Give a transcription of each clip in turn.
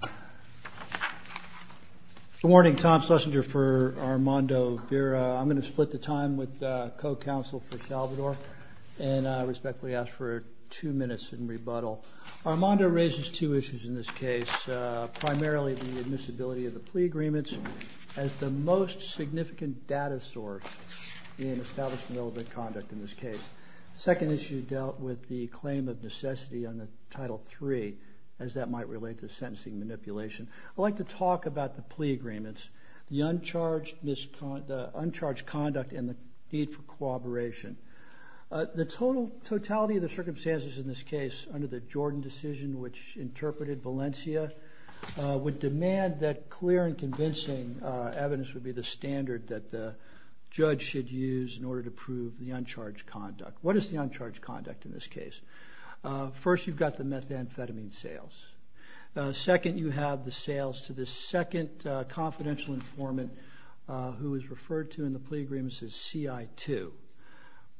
Good morning, Tom Schlesinger for Armando Vera. I'm going to split the time with co-counsel for El Salvador and I respectfully ask for two minutes in rebuttal. Armando raises two issues in this case, primarily the admissibility of the plea agreements as the most significant data source in establishment-relevant conduct in this case. The second issue dealt with the claim of necessity on the Title III as that might relate to sentencing manipulation. I'd like to talk about the plea agreements, the uncharged misconduct, the uncharged conduct and the need for cooperation. The total, totality of the circumstances in this case under the Jordan decision which interpreted Valencia would demand that clear and convincing evidence would be the standard that the judge should use in order to prove the uncharged conduct. What is the uncharged conduct in this case? First you've got the methamphetamine sales. Second you have the sales to the second confidential informant who is referred to in the plea agreements as CI2.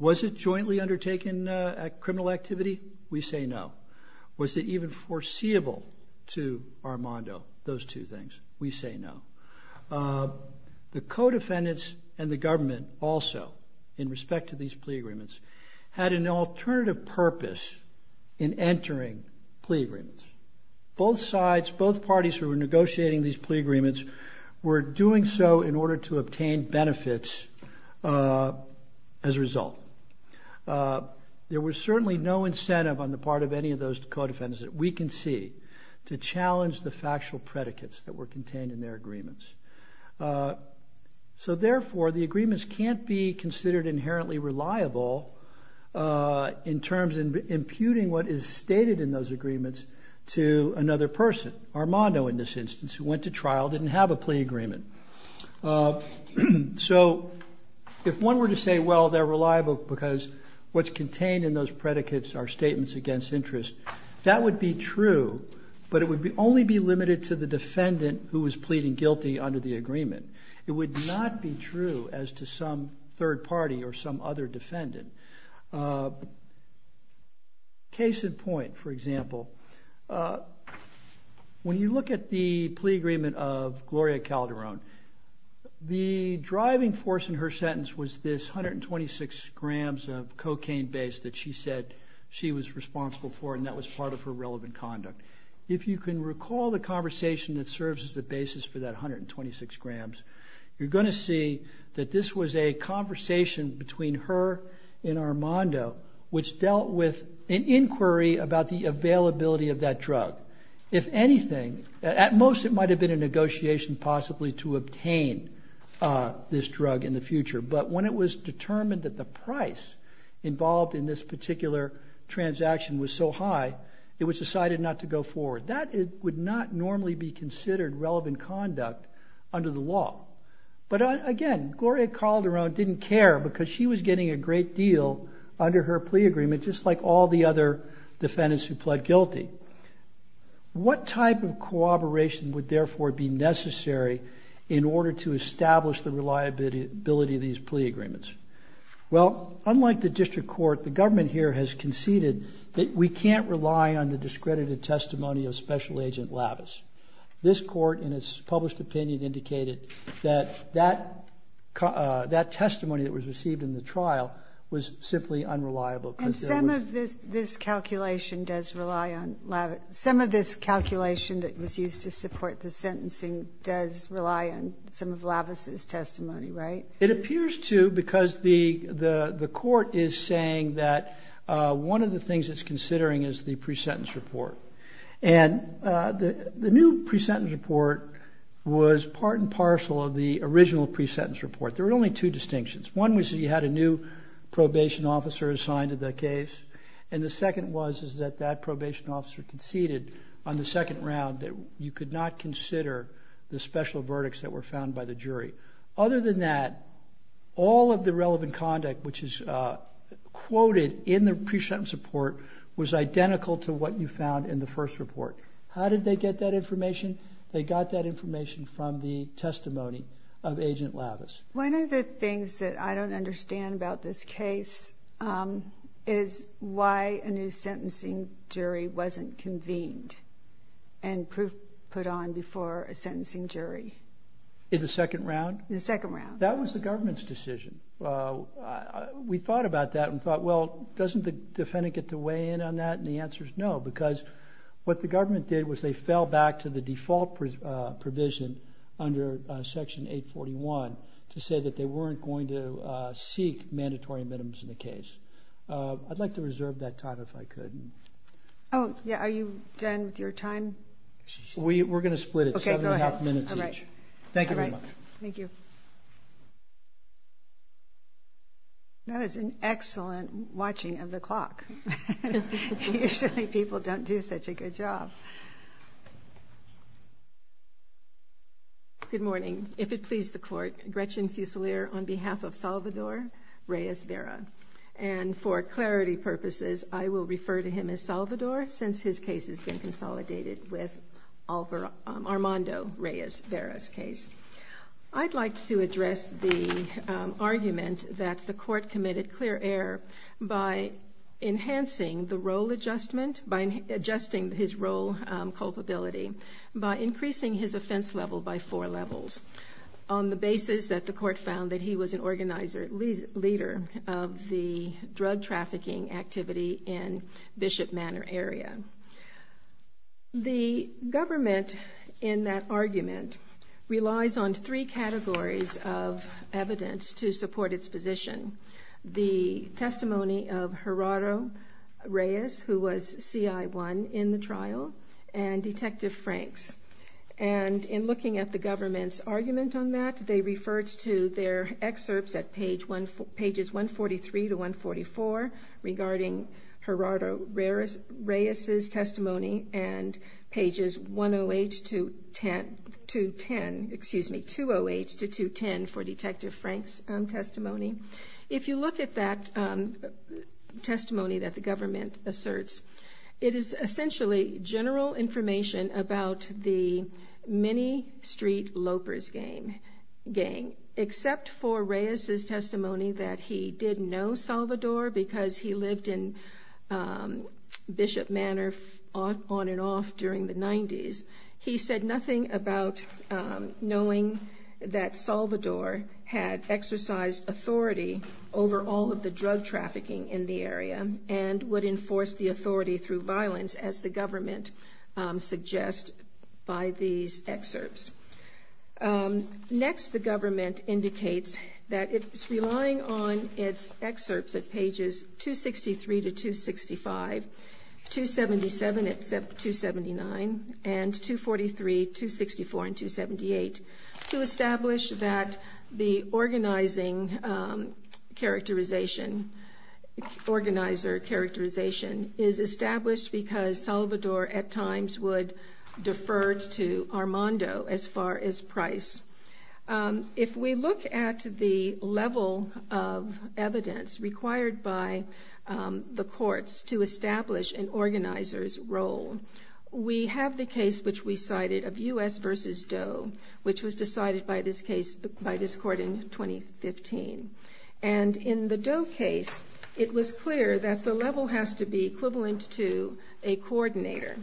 Was it jointly undertaken at criminal activity? We say no. Was it even foreseeable to Armando? Those two things. We say no. The co-defendants and the government also in respect to these plea agreements had an alternative purpose in entering plea agreements. Both sides, both parties who were negotiating these plea agreements were doing so in order to obtain benefits as a result. There was certainly no incentive on the part of any of those co-defendants that we can see to challenge the factual predicates that were contained in their agreements. So therefore the agreements can't be considered inherently reliable in terms of imputing what is stated in those agreements to another person. Armando in this instance who went to trial didn't have a plea agreement. So if one were to say well they're reliable because what's contained in those predicates are statements against interest, that would be true but it would only be limited to the defendant who was pleading guilty under the agreement. It would not be true as to some third party or some other defendant. Case in point, for example, when you look at the plea agreement of Gloria Calderon, the driving force in her sentence was this 126 grams of cocaine base that she said she was responsible for and that was part of her relevant conduct. If you can recall the conversation that serves as the basis for that 126 grams, you're going to see that this was a conversation between her and Armando which dealt with an inquiry about the availability of that drug. If anything, at most it might have been a negotiation possibly to obtain this drug in the future but when it was determined that the price involved in this particular transaction was so high, it was decided not to go forward. That would not normally be considered relevant conduct under the law. But again, Gloria Calderon didn't care because she was getting a great deal under her plea agreement just like all the other defendants who pled guilty. What type of cooperation would therefore be necessary in order to establish the reliability of these plea agreements? Well unlike the district court, the government here has conceded that we can't rely on the discredited testimony of Special Agent Lavis. This court in its published opinion indicated that that testimony that was received in the trial was simply unreliable. And some of this calculation does rely on Lavis. Some of this calculation that was used to support the sentencing does rely on some of Lavis' testimony, right? It appears to because the court is saying that one of the things it's considering is the pre-sentence report. And the new pre-sentence report was part and parcel of the original pre-sentence report. There were only two distinctions. One was that you had a new probation officer assigned to the case and the second was that that probation officer conceded on the second round that you could not consider the special verdicts that were found by the jury. Other than that, all of the relevant conduct which is quoted in the pre-sentence report was identical to what you found in the first report. How did they get that information? They got that information from the testimony of Agent Lavis. One of the things that I don't understand about this case is why a new sentencing jury wasn't convened and proof put on before a sentencing jury. In the second round? In the second round. That was the government's decision. We thought about that and thought, well, doesn't the jury weigh in on that? And the answer is no, because what the government did was they fell back to the default provision under Section 841 to say that they weren't going to seek mandatory admittance in the case. I'd like to reserve that time if I could. Oh, yeah. Are you done with your time? We're going to split it. Seven and a half minutes each. Okay, go ahead. All right. Thank you very much. Thank you. That was an excellent watching of the clock. Usually people don't do such a good job. Good morning. If it pleases the Court, Gretchen Fuselier on behalf of Salvador Reyes-Vera. And for clarity purposes, I will refer to him as Salvador since his case has been consolidated in the case. I'd like to address the argument that the Court committed clear error by enhancing the role adjustment, by adjusting his role culpability, by increasing his offense level by four levels on the basis that the Court found that he was an organizer, leader of the drug trafficking activity in Bishop Manor area. The government in that argument relies on three categories of evidence to support its position. The testimony of Gerardo Reyes, who was CI1 in the trial, and Detective Franks. And in looking at the government's argument on that, they referred to their excerpts at pages 143-144 regarding Gerardo Reyes' testimony and pages 108-210 for Detective Franks' testimony. If you look at that testimony that the government asserts, it is essentially general information about the Mini Street Lopers gang. Except for Reyes' testimony that he did know Salvador because he lived in Bishop Manor on and off during the 90s, he said nothing about knowing that Salvador had exercised authority over all of the drug trafficking in the area and would enforce the authority through violence, as the government suggests by these excerpts. Next the government indicates that it's relying on its excerpts at pages 263-265, 277-279, and 243, 264, and 278 to establish that the organizing characterization, organizer characterization is established because Salvador at times would defer to Armando as far as price. If we look at the level of evidence required by the courts to establish an organizer's role, we have the case which we cited of U.S. v. Doe, which was decided by this case, by this court in 2015. And in the Doe case, it was clear that the level has to be equivalent to a coordinator.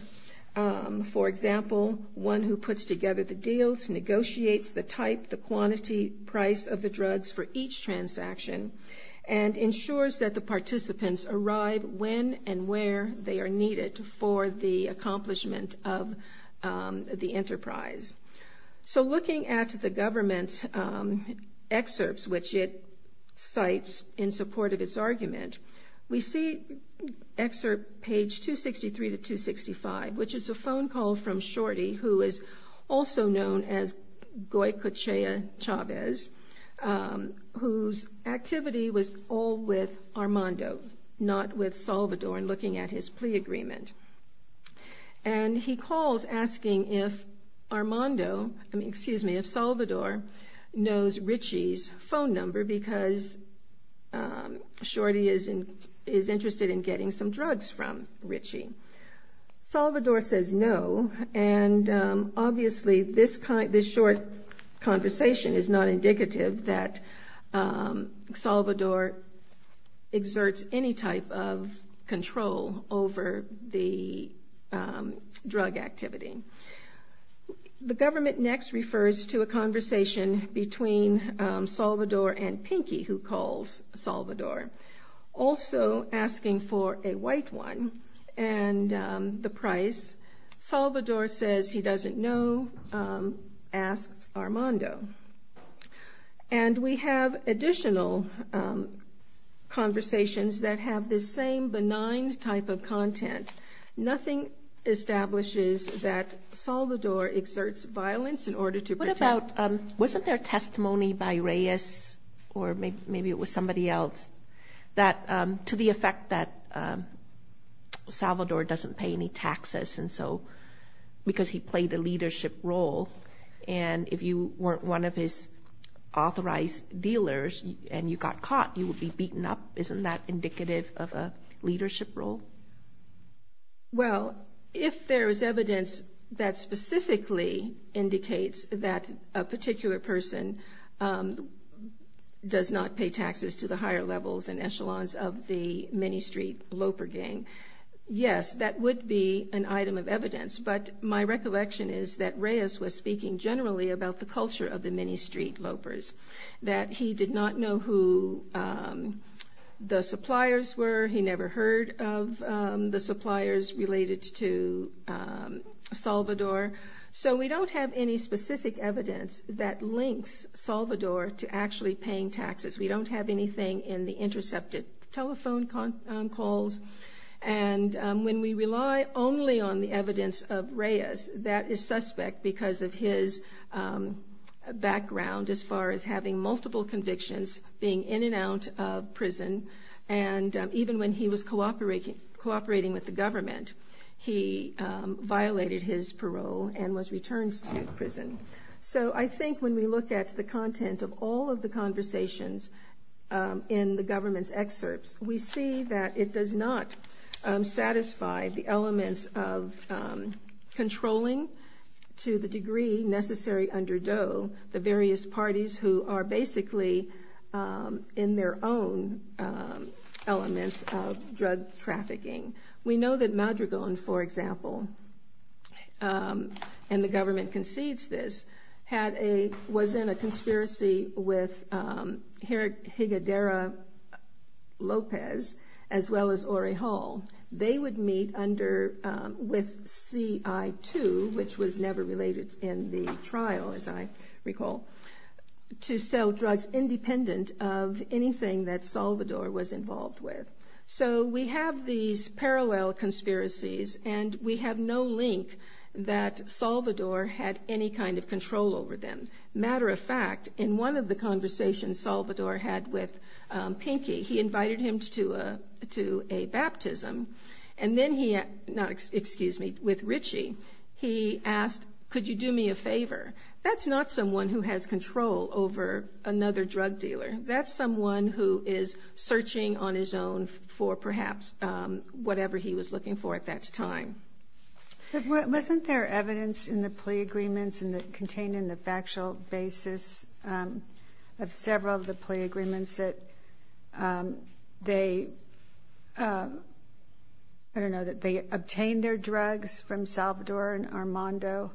For example, one who puts together the deals, negotiates the type, the quantity, price of the drugs for each transaction, and ensures that the participants arrive when and where they are needed for the accomplishment of the enterprise. So looking at the government's excerpts, which it cites in support of its argument, we see excerpt page 263-265, which is a phone call from Shorty, who is also known as Goy Cochea Chavez, whose activity was all with Armando, not with Salvador in looking at his plea agreement. And he calls asking if Armando, I mean, excuse me, if Salvador knows Ritchie's phone number because Shorty is interested in getting some drugs from Ritchie. Salvador says no, and obviously this short conversation is not indicative that Salvador exerts any type of control over the drug activity. The government next refers to a conversation between Salvador and Pinky, who calls Salvador, also asking for a white one and the price. Salvador says he doesn't know, asks Armando. And we have additional conversations that have this same benign type of content. Nothing establishes that Salvador exerts violence in order to protect. What about, wasn't there testimony by Reyes, or maybe it was somebody else, that to the effect that Salvador doesn't pay any taxes, and so, because he played a leadership role, and if you weren't one of his authorized dealers and you got caught, you would be beaten up. Isn't that indicative of a leadership role? Well, if there is evidence that specifically indicates that a particular person does not pay taxes to the higher levels and echelons of the mini-street loper gang, yes, that would be an item of evidence. But my recollection is that Reyes was speaking generally about the culture of the mini-street lopers, that he did not know who the suppliers were, he never heard of the suppliers related to Salvador. So we don't have any specific evidence that links Salvador to actually paying taxes. We don't have anything in the intercepted telephone calls. And when we rely only on the evidence of Reyes, that is suspect because of his, his background as far as having multiple convictions, being in and out of prison, and even when he was cooperating with the government, he violated his parole and was returned to prison. So I think when we look at the content of all of the conversations in the government's excerpts, we see that it does not satisfy the elements of controlling to the degree necessary under Doe, the various parties who are basically in their own elements of drug trafficking. We know that Madrigal, for example, and the government concedes this, had a, was in a conspiracy with Higedera Lopez, as well as Orihal. They would meet under, with CI2, which was never related in the trial, as I recall, to sell drugs independent of anything that Salvador was involved with. So we have these parallel conspiracies, and we have no link that Salvador had any kind of control over them. Matter of fact, in one of the conversations Salvador had with Pinky, he invited him to a, to a baptism, and then he, not, excuse me, with Richie, he asked, could you do me a favor? That's not someone who has control over another drug dealer. That's someone who is searching on his own for perhaps whatever he was looking for at that time. Wasn't there evidence in the plea agreements and that contained in the factual basis of several of the plea agreements that they, I don't know, that they obtained their drugs from Salvador and Armando?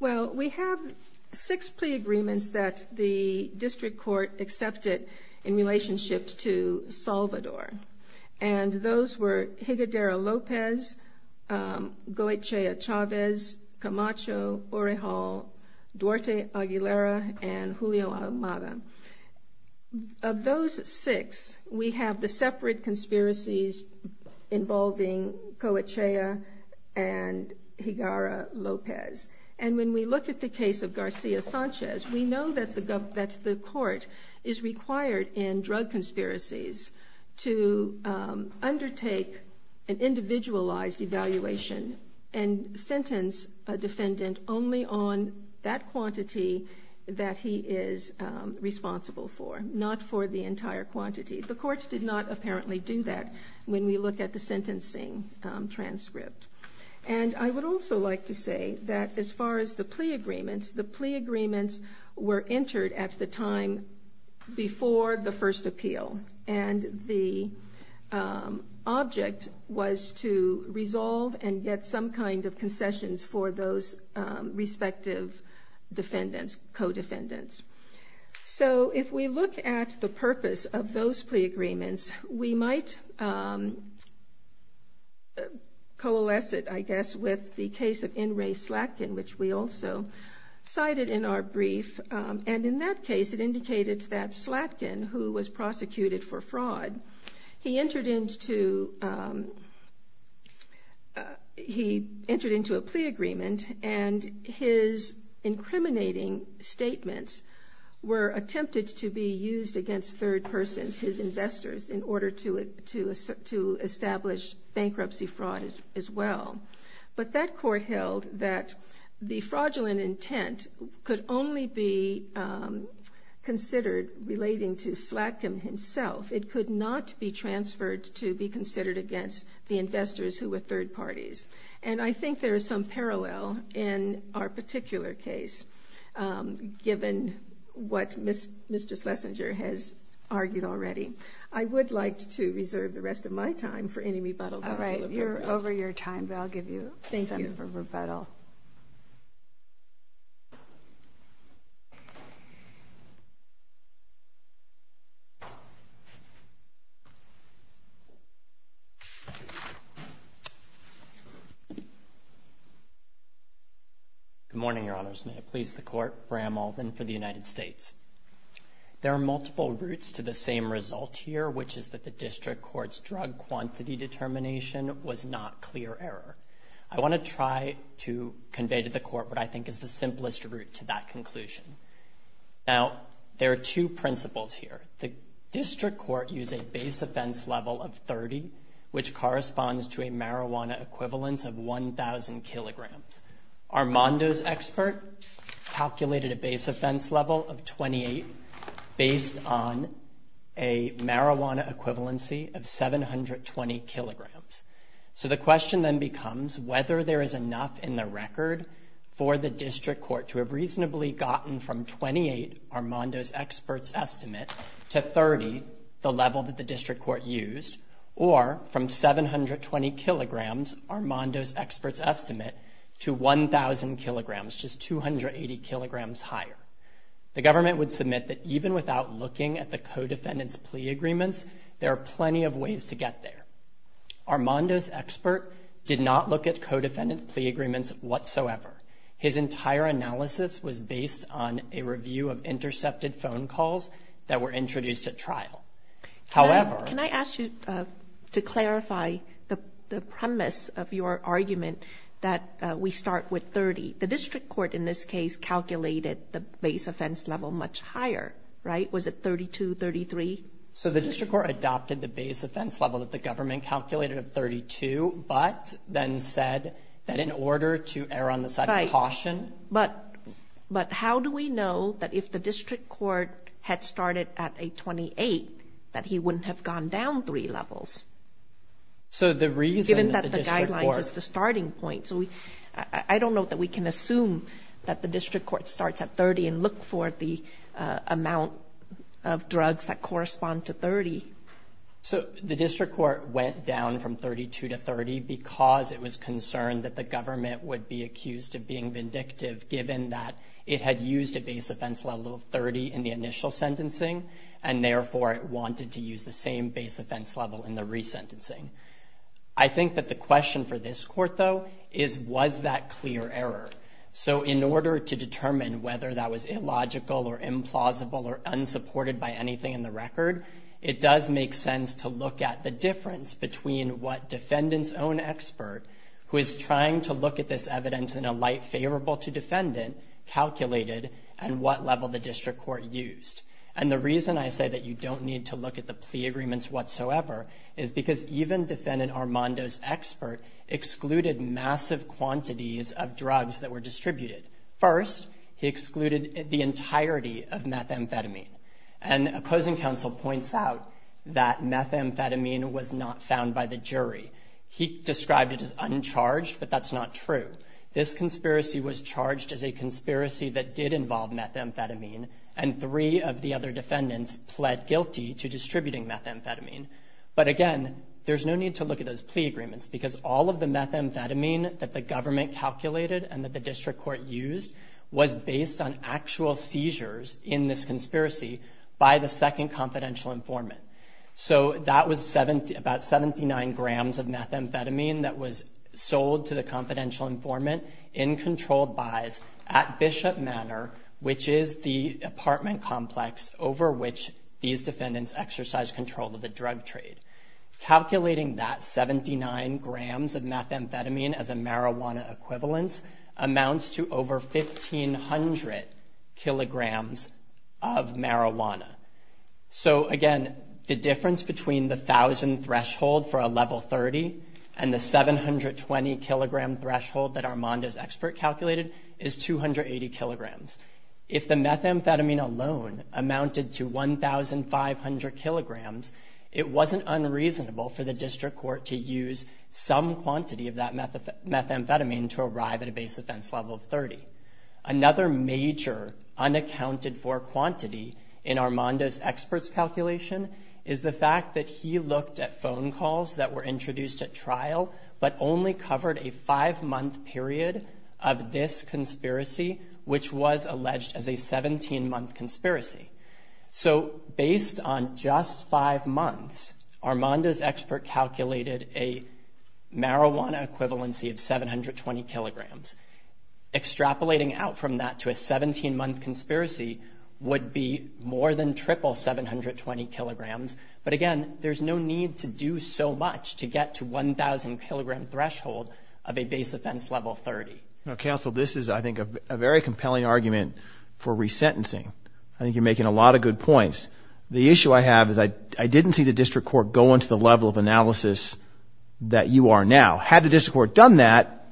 Well, we have six plea agreements that the district court accepted in relationship to Salvador, and those were Higedera Lopez, Goetia Chavez, Camacho, Orihal, Duarte Aguilera, and Julio Almada. Of those six, we have the separate conspiracies involving Goetia Chavez and Higedera Lopez. And when we look at the case of Garcia Sanchez, we know that the court is required in drug conspiracies to undertake an individualized evaluation and sentence a defendant only on that quantity that he is responsible for, not for the entire quantity. The courts did not apparently do that when we look at the sentencing transcript. And I would also like to say that as far as the plea agreements, the plea agreements were entered at the time before the first appeal, and the object was to resolve and get some kind of concessions for those respective defendants, co-defendants. So if we look at the purpose of those plea agreements, we might coalesce it, I guess, with the case of N. Ray Slatkin, which we also cited in our brief. And in that case, it indicated that Slatkin, who was prosecuted for fraud, he entered into a plea agreement, and his incriminating statements were attempted to be used against third persons, his investors, in order to establish bankruptcy fraud as well. But that court held that the fraudulent intent could only be considered relating to Slatkin himself. It could not be transferred to be considered against the investors who were third parties. And I think there is some parallel in our particular case, given what Mr. Schlesinger has argued already. I would like to reserve the rest of my time for any rebuttal. All right. You're over your time, but I'll give you some rebuttal. Thank you. Good morning, Your Honors. May it please the Court for Amald and for the United States. There are multiple routes to the same result here, which is that the District Court's drug quantity determination was not clear error. I want to try to convey to the Court what I think is the simplest route to that conclusion. Now, there are two principles here. The District Court used a base offense level of 30, which corresponds to a marijuana equivalence of 720 kilograms. So the question then becomes whether there is enough in the record for the District Court to have reasonably gotten from 28, Armando's expert's estimate, to 30, the level that the District Court used, or from 720 kilograms, Armando's expert's estimate, to 1,000 kilograms, just 280 kilograms higher. The government would submit that even without looking at the co-defendant's plea agreements, there are plenty of ways to get there. Armando's expert did not look at co-defendant's plea agreements whatsoever. His entire analysis was based on a review of intercepted phone calls that were introduced at trial. However— Can I ask you to clarify the premise of your argument that we start with 30? The District Court, in this case, calculated the base offense level much higher, right? Was it 32, 33? So the District Court adopted the base offense level that the government calculated of 32, but then said that in order to err on the side of caution— But how do we know that if the District Court had started at a 28, that he wouldn't have gone down three levels, given that the guidelines is the starting point? So I don't know that we can assume that the District Court starts at 30 and look for the amount of drugs that correspond to 30. So the District Court went down from 32 to 30 because it was concerned that the government would be accused of being vindictive, given that it had used a base offense level of 30 in the initial sentencing, and therefore it wanted to use the same base offense level in the resentencing. I think that the question for this Court, though, is was that clear error? So in order to determine whether that was illogical or implausible or unsupported by anything in the record, it does make sense to look at the difference between what defendant's own expert, who is trying to look at this evidence in a light favorable to defendant, calculated, and what level the District Court used. And the reason I say that you don't need to look at the plea agreements whatsoever is because even defendant Armando's expert excluded massive quantities of drugs that were distributed. First, he excluded the entirety of methamphetamine. And opposing counsel points out that methamphetamine was not found by the jury. He described it as uncharged, but that's not true. This conspiracy was a conspiracy that did involve methamphetamine, and three of the other defendants pled guilty to distributing methamphetamine. But again, there's no need to look at those plea agreements because all of the methamphetamine that the government calculated and that the District Court used was based on actual seizures in this conspiracy by the second confidential informant. So that was about 79 grams of methamphetamine that was sold to the confidential informant in controlled buys at Bishop Manor, which is the apartment complex over which these defendants exercise control of the drug trade. Calculating that 79 grams of methamphetamine as a marijuana equivalence amounts to over 1,500 kilograms of marijuana. So again, the difference between the 1,000 threshold for a level 30 and the 720 kilogram threshold that Armando's expert calculated is 280 kilograms. If the methamphetamine alone amounted to 1,500 kilograms, it wasn't unreasonable for the District Court to use some quantity of that methamphetamine to arrive at a base offense level of 30. Another major unaccounted for quantity in Armando's expert's calculation is the fact that he looked at phone calls that were introduced at trial but only covered a five-month period of this conspiracy, which was alleged as a 17-month conspiracy. So based on just five months, Armando's expert calculated a marijuana equivalency of 720 kilograms. Extrapolating out from that to a 17-month conspiracy would be more than triple 720 kilograms. But again, there's no need to do so much to get to 1,000-kilogram threshold of a base offense level 30. Now, counsel, this is, I think, a very compelling argument for resentencing. I think you're making a lot of good points. The issue I have is I didn't see the District Court go into the level of analysis that you are now. Had the District Court done that,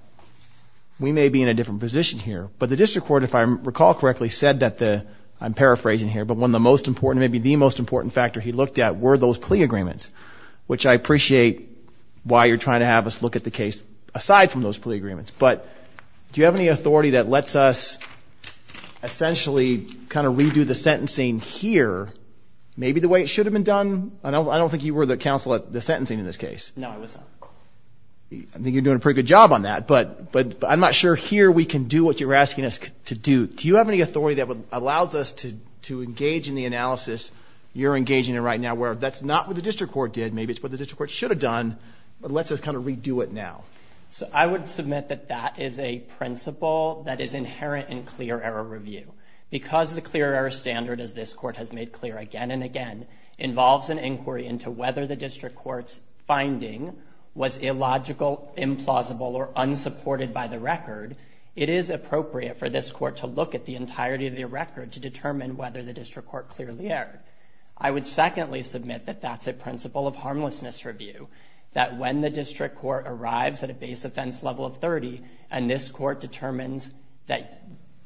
we may be in a different position here. But the District Court, if I recall correctly, said that the – I'm paraphrasing here – but one of the most important, maybe the most important factor he looked at were those plea agreements, which I appreciate why you're trying to have us look at the case aside from those plea agreements. But do you have any authority that lets us essentially kind of redo the sentencing here, maybe the way it should have been done? I don't think you were the counsel at the sentencing in this case. No, I was not. I think you're doing a pretty good job on that. But I'm not sure here we can do what you're asking us to do. Do you have any authority that allows us to engage in the analysis you're engaging in right now where that's not what the District Court did, maybe it's what the District Court should have done, but lets us kind of redo it now? So I would submit that that is a principle that is inherent in clear error review. Because the clear error standard, as this Court has made clear again and again, involves an inquiry into whether the District Court's finding was illogical, implausible, or unsupported by the record, it is appropriate for this Court to look at the entirety of the record to determine whether the District Court clearly erred. I would secondly submit that that's a principle of harmlessness review, that when the District Court arrives at a base offense level of 30, and this Court determines that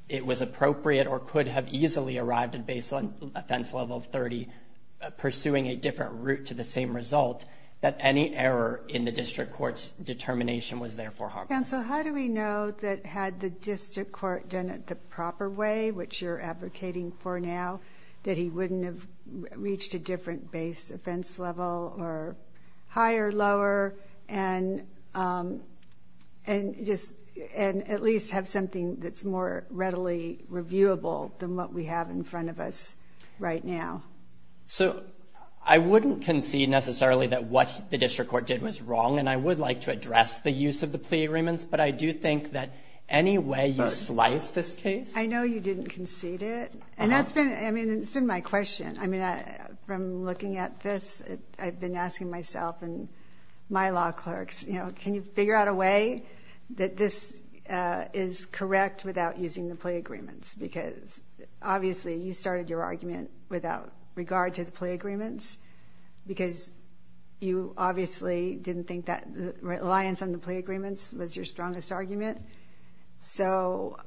it was appropriate or could have easily arrived at a base offense level of 30, pursuing a different route to the same result, that any error in the District Court's determination was therefore harmless. Counsel, how do we know that had the District Court done it the proper way, which you're advocating for now, that he wouldn't have reached a different base offense level, or higher, lower, and at least have something that's more readily reviewable than what we have in front of us right now? So I wouldn't concede necessarily that what the District Court did was wrong, and I would like to address the use of the plea agreements, but I do think that any way you slice this case — I know you didn't concede it. And that's been — I mean, it's been my question. I mean, from looking at this, I've been asking myself and my law clerks, you know, can you figure out a way that this is correct without using the plea agreements? Because obviously you started your argument without regard to the plea agreements, because you obviously didn't think that reliance on the plea agreements was your strongest argument. So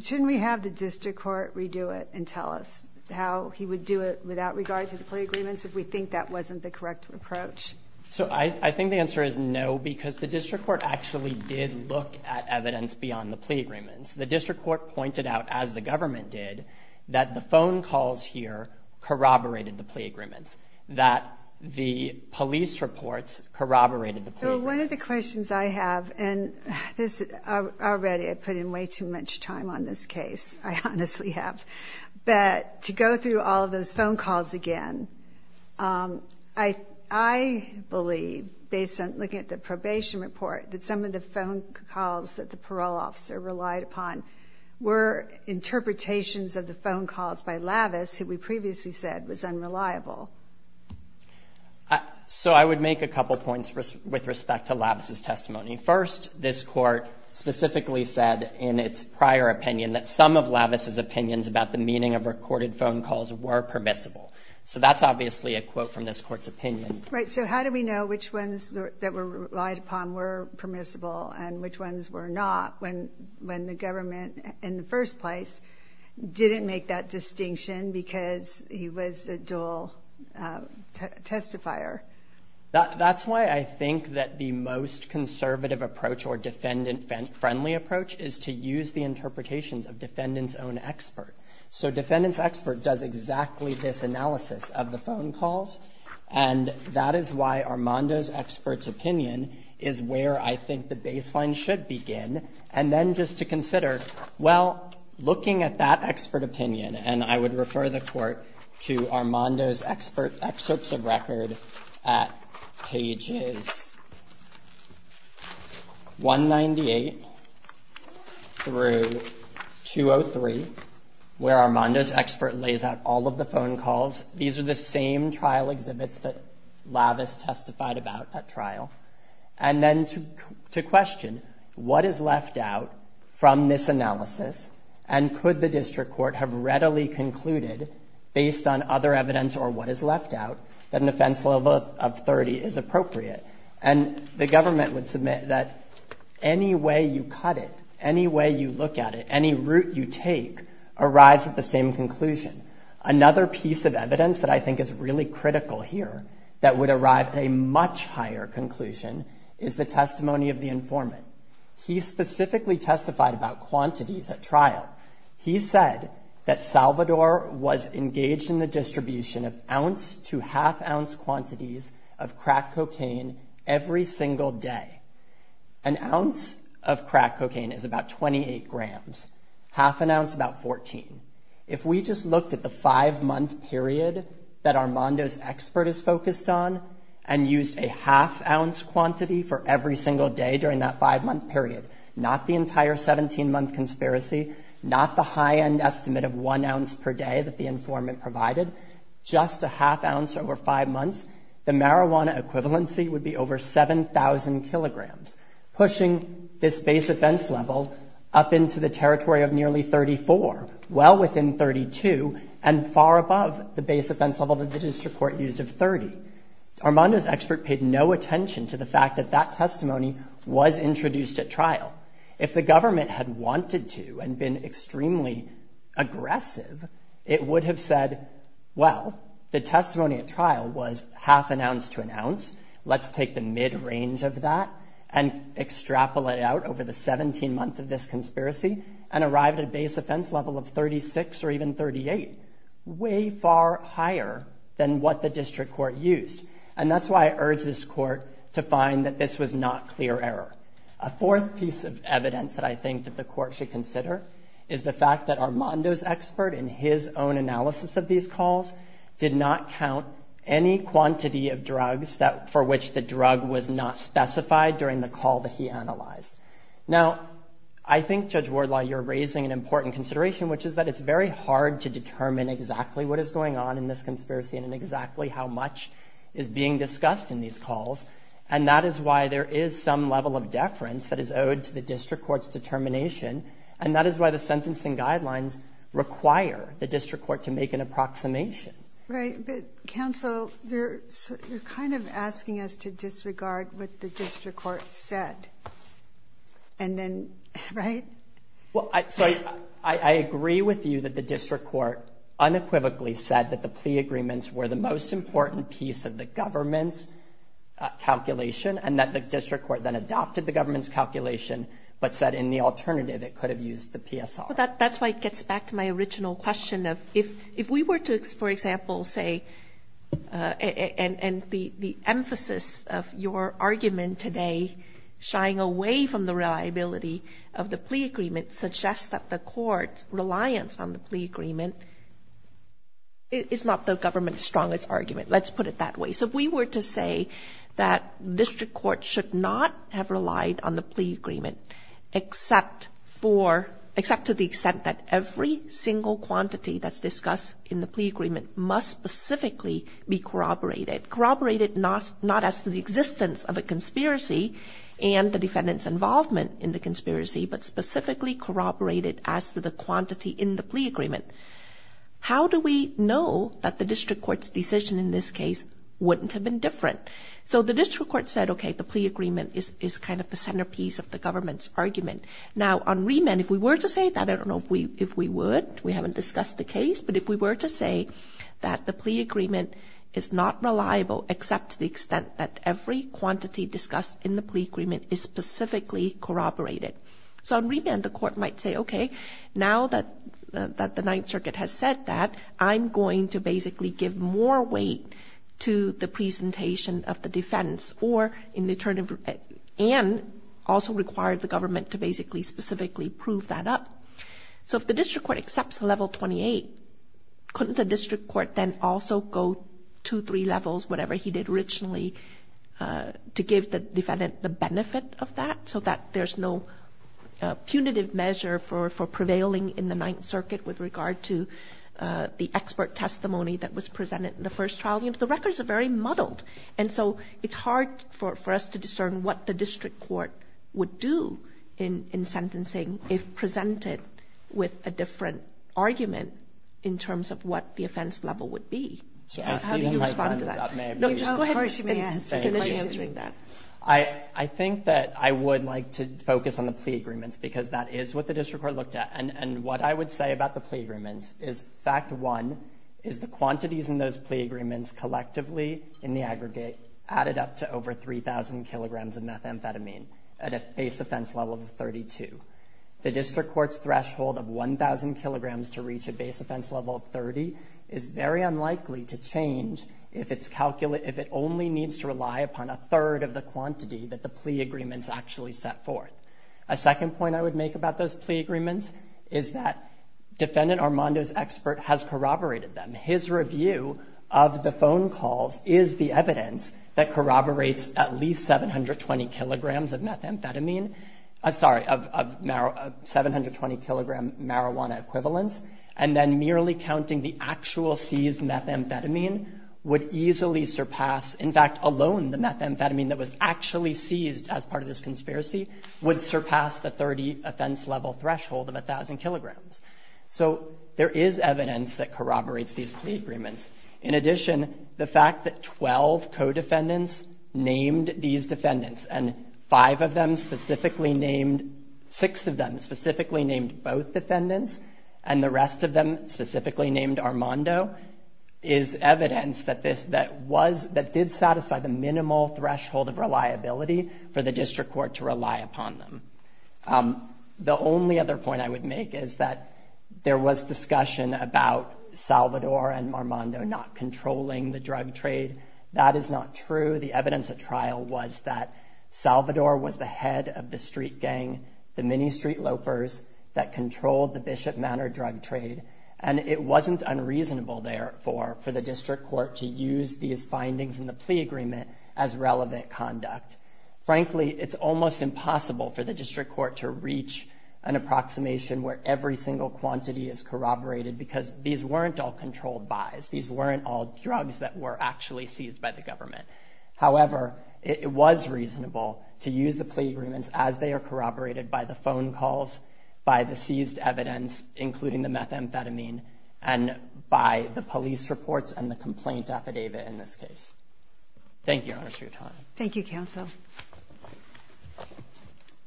shouldn't we have the District Court redo it and tell us how he would do it without regard to the plea agreements if we think that wasn't the correct approach? So I think the answer is no, because the District Court actually did look at evidence beyond the plea agreements. The District Court pointed out, as the government did, that the phone calls here corroborated the plea agreements, that the police reports corroborated the plea agreements. So one of the questions I have — and this — already I put in way too much time on this case, I honestly have — but to go through all of those phone calls again, I believe, based on looking at the probation report, that some of the phone calls that the parole officer relied upon were interpretations of the phone calls by Lavis, who we previously said was unreliable. So I would make a couple points with respect to Lavis's testimony. First, this Court specifically said in its prior opinion that some of Lavis's opinions about the meaning of recorded phone calls were permissible. So that's obviously a quote from this Court's opinion. Right. So how do we know which ones that were relied upon were permissible and which ones were not when the government, in the first place, didn't make that distinction because he was a dual testifier? That's why I think that the most conservative approach or defendant-friendly approach is to use the interpretations of defendant's own expert. So defendant's expert does exactly this analysis of the phone calls, and that is why Armando's expert's opinion is where I think the baseline should begin. And then just to consider, well, looking at that expert opinion, and I would refer the Court to Armando's expert excerpts of record at pages 198 through 203, where Armando's expert lays out all of the phone calls. These are the same trial exhibits that Lavis testified about at trial. And then to question what is left out from this analysis, and could the district court have readily concluded, based on other evidence or what is left out, that an offense level of 30 is appropriate? And the government would submit that any way you cut it, any way you look at it, any route you take, arrives at the same conclusion. Another piece of evidence that I think is really critical here that would arrive at a much higher conclusion is the testimony of the informant. He specifically testified about quantities at trial. He said that Salvador was engaged in the distribution of ounce to half-ounce quantities of crack cocaine every single day. An ounce of crack cocaine is about 28 grams, half an ounce about 14. If we just looked at the five-month period that Armando's expert is focused on, and used a half-ounce quantity for every single day during that five-month period, not the entire 17-month conspiracy, not the high-end estimate of one ounce per day that the informant provided, just a half-ounce over five months, the marijuana equivalency would be over 7,000 kilograms, pushing this base offense level up into the territory of nearly 34, well within 32, and far above the base offense level that the district court used of 30. Armando's expert paid no attention to the fact that that testimony was introduced at trial. If the government had wanted to and been extremely aggressive, it would have said, well, the testimony at trial was half an ounce to an ounce. Let's take the mid-range of that and extrapolate it out over the 17-month of this conspiracy, and arrive at a base offense level of 36 or even 38, way far higher than what the district court used. And that's why I urge this court to find that this was not clear error. A fourth piece of evidence that I think that the court should consider is the fact that Armando's expert, in his own analysis of these calls, did not count any quantity of drugs for which the drug was not specified during the call that he analyzed. Now, I think, Judge Armando, I think there's another important consideration, which is that it's very hard to determine exactly what is going on in this conspiracy, and exactly how much is being discussed in these calls. And that is why there is some level of deference that is owed to the district court's determination, and that is why the sentencing guidelines require the district court to make an approximation. Right. But, counsel, you're kind of asking us to disregard what the district court said. And then, right? Well, so, I agree with you that the district court unequivocally said that the plea agreements were the most important piece of the government's calculation, and that the district court then adopted the government's calculation, but said in the alternative it could have used the PSR. That's why it gets back to my original question of, if we were to, for example, say, and the plea agreement suggests that the court's reliance on the plea agreement is not the government's strongest argument. Let's put it that way. So, if we were to say that district court should not have relied on the plea agreement, except to the extent that every single quantity that's discussed in the plea agreement must specifically be corroborated, corroborated not as to the existence of a conspiracy and the defendant's involvement in the conspiracy, but specifically corroborated as to the quantity in the plea agreement, how do we know that the district court's decision in this case wouldn't have been different? So, the district court said, okay, the plea agreement is kind of the centerpiece of the government's argument. Now, on remand, if we were to say that, I don't know if we would, we haven't discussed the case, but if we were to say that the plea agreement is not reliable, except to the extent that every quantity discussed in the plea agreement is specifically corroborated, so on remand, the court might say, okay, now that the Ninth Circuit has said that, I'm going to basically give more weight to the presentation of the defense, and also require the government to basically specifically prove that up. So, if the district court accepts level 28, couldn't the district court then also go two, three levels, whatever he did originally, to give the defendant the benefit of that, so that there's no punitive measure for prevailing in the Ninth Circuit with regard to the expert testimony that was presented in the first trial? The records are very muddled, and so it's hard for us to discern what the district court would do in sentencing if presented with a different argument in terms of what the offense level would be. I see my time is up, may I please finish answering that? I think that I would like to focus on the plea agreements, because that is what the district court looked at, and what I would say about the plea agreements is, fact one, is the quantities in those plea agreements collectively, in the aggregate, added up to over 3,000 kilograms of methamphetamine at a base offense level of 32. The district court's ability to change if it only needs to rely upon a third of the quantity that the plea agreements actually set forth. A second point I would make about those plea agreements is that defendant Armando's expert has corroborated them. His review of the phone calls is the evidence that corroborates at least 720 kilograms of methamphetamine, sorry, of 720 kilogram marijuana equivalents, and then merely counting the actual seized methamphetamine would easily surpass, in fact, alone the methamphetamine that was actually seized as part of this conspiracy would surpass the 30 offense level threshold of 1,000 kilograms. So there is evidence that corroborates these plea agreements. In addition, the fact that 12 co-defendants named these defendants, and the rest of them specifically named Armando, is evidence that was, that did satisfy the minimal threshold of reliability for the district court to rely upon them. The only other point I would make is that there was discussion about Salvador and Armando not controlling the drug trade. That is not true. The evidence at trial was that Salvador was the head of the street gang, the mini street lopers that controlled the Bishop Manor drug trade, and it wasn't unreasonable, therefore, for the district court to use these findings in the plea agreement as relevant conduct. Frankly, it's almost impossible for the district court to reach an approximation where every single quantity is corroborated because these weren't all controlled buys. These weren't all drugs that were actually seized by the district court to use the plea agreements as they are corroborated by the phone calls, by the seized evidence, including the methamphetamine, and by the police reports and the complaint affidavit in this case. Thank you, Your Honor, for your time. Thank you, counsel.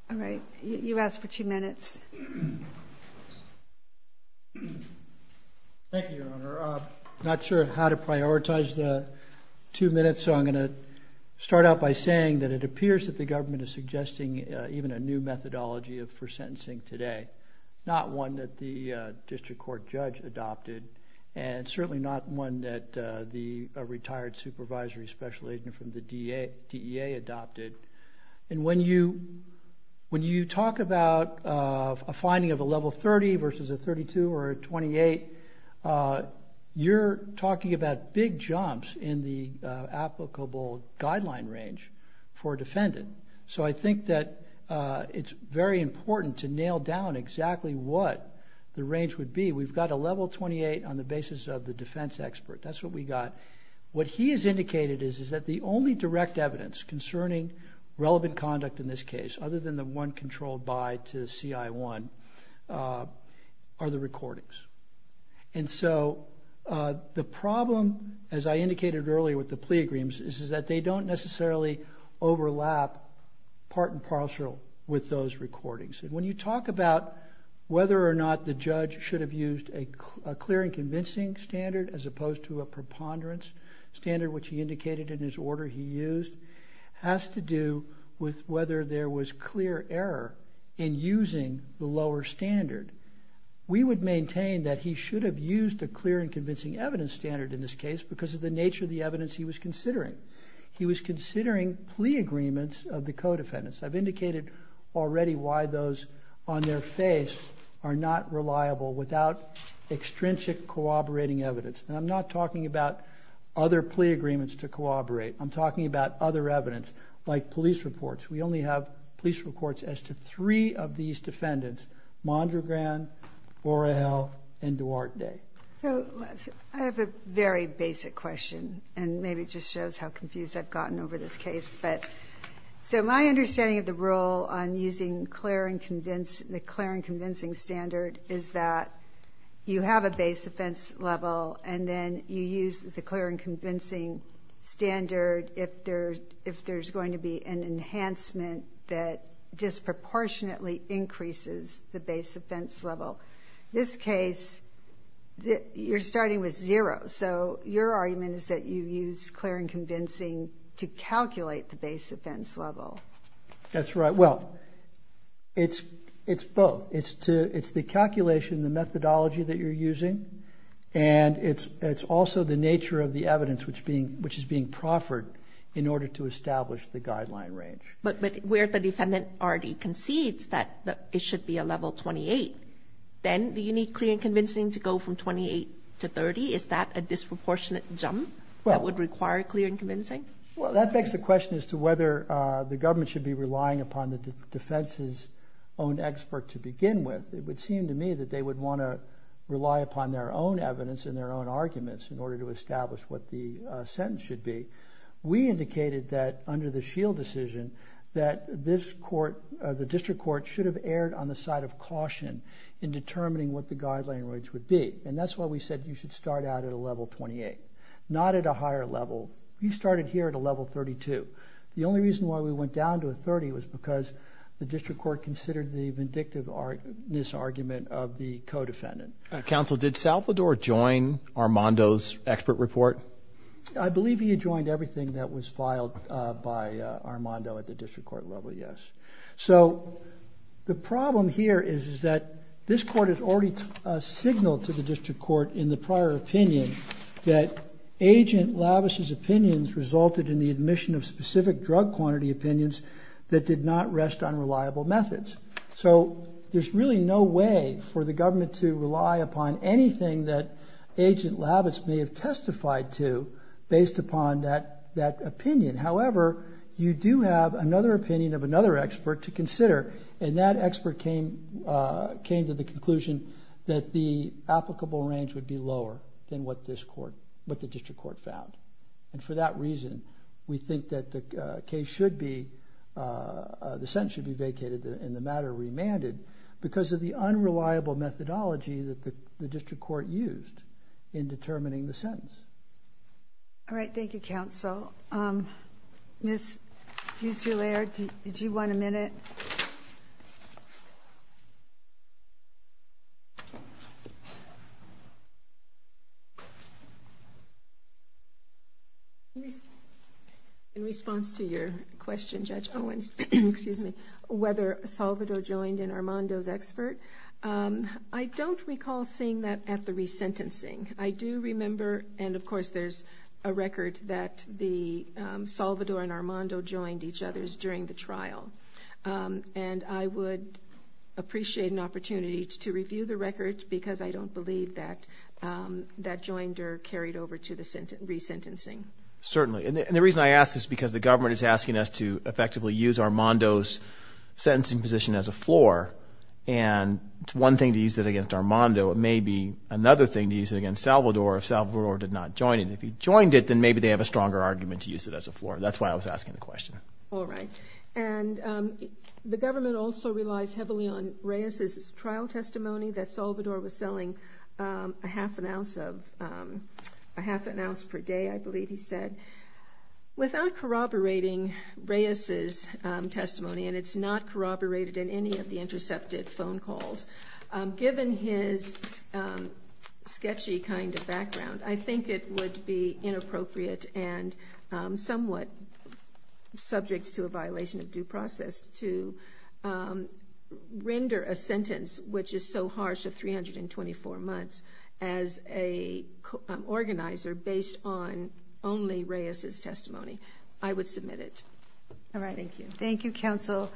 All right. You asked for two minutes. Thank you, Your Honor. I'm not sure how to prioritize the two minutes, so I'm going to start by saying that it appears that the government is suggesting even a new methodology for sentencing today, not one that the district court judge adopted, and certainly not one that a retired supervisory special agent from the DEA adopted. When you talk about a finding of a level 30 versus a 32 or a 28, you're talking about big jumps in the applicable guideline range for a defendant. So I think that it's very important to nail down exactly what the range would be. We've got a level 28 on the basis of the defense expert. That's what we got. What he has indicated is that the only direct evidence concerning relevant conduct in this case, other than the one controlled buy to CI1, are the recordings. And so the problem, as I indicated earlier with the plea agreements, is that they don't necessarily overlap part and parcel with those recordings. And when you talk about whether or not the judge should have used a clear and convincing standard as opposed to a preponderance standard, which he indicated in his order he used, has to do with whether there was clear error in using the lower standard. We would maintain that he should have used a clear and convincing evidence standard in this case because of the nature of the evidence he was considering. He was considering plea agreements of the co-defendants. I've indicated already why those on their face are not reliable without extrinsic corroborating evidence. And I'm not talking about other plea agreements to corroborate. I'm talking about other evidence, like police reports. We only have police reports as to three of these defendants, Mondragan, Borrell, and Duarte. So I have a very basic question, and maybe it just shows how confused I've gotten over this case. So my understanding of the rule on using the clear and convincing standard is that you have a base offense level, and then you use the clear and convincing standard if there's going to be an enhancement that disproportionately increases the base offense level. In this case, you're starting with zero. So your argument is that you use clear and convincing to calculate the base offense level. That's right. Well, it's both. It's the calculation, the methodology that you're using, and it's also the nature of the evidence which is being proffered in order to establish the guideline range. But where the defendant already concedes that it should be a level 28, then do you need clear and convincing to go from 28 to 30? Is that a disproportionate jump that would require clear and convincing? Well, that begs the question as to whether the government should be relying upon the defense's own expert to begin with. It would seem to me that they would want to rely upon their own evidence and their own arguments in order to establish what the sentence should be. We indicated that under the S.H.I.E.L.D. decision that the district court should have erred on the side of caution in determining what the guideline range would be. And that's why we said you should start out at a level 28, not at a higher level. We started here at a level 32. The only reason why we went down to a 30 was because the district court considered the vindictiveness argument of the co-defendant. Counsel, did Salvador join Armando's expert report? I believe he had joined everything that was filed by Armando at the district court level, yes. So the problem here is that this court has already signaled to the district court in the prior opinion that Agent Lavis's opinions resulted in the admission of specific drug quantity opinions that did not rest on reliable methods. So there's really no way for the district court to go down to 32 based upon that opinion. However, you do have another opinion of another expert to consider, and that expert came to the conclusion that the applicable range would be lower than what the district court found. And for that reason, we think that the case should be, the sentence should be vacated and the matter remanded because of the unreliable methodology that the district court used in determining the All right. Thank you, Counsel. Ms. Uciler, did you want a minute? In response to your question, Judge Owens, whether Salvador joined in Armando's expert, I don't recall seeing that at the resentencing. I do remember, and of course there's a record that the Salvador and Armando joined each other's during the trial. And I would appreciate an opportunity to review the record because I don't believe that that joined or carried over to the resentencing. Certainly. And the reason I ask is because the government is asking us to effectively use Armando's sentencing position as a floor. And it's one thing to use it against Armando. It may be another thing to use it against Salvador if Salvador did not join in. If he joined it, then maybe they have a stronger argument to use it as a floor. That's why I was asking the question. All right. And the government also relies heavily on Reyes's trial testimony that Salvador was selling a half an ounce per day, I believe he said. Without corroborating Reyes's testimony, and it's not corroborated in any of the intercepted phone calls, given his sketchy kind of background, I think it would be inappropriate and somewhat subject to a violation of due process to render a sentence which is so harsh of 324 months as a organizer based on only Reyes's testimony. I would submit it. All right. Thank you, Counsel.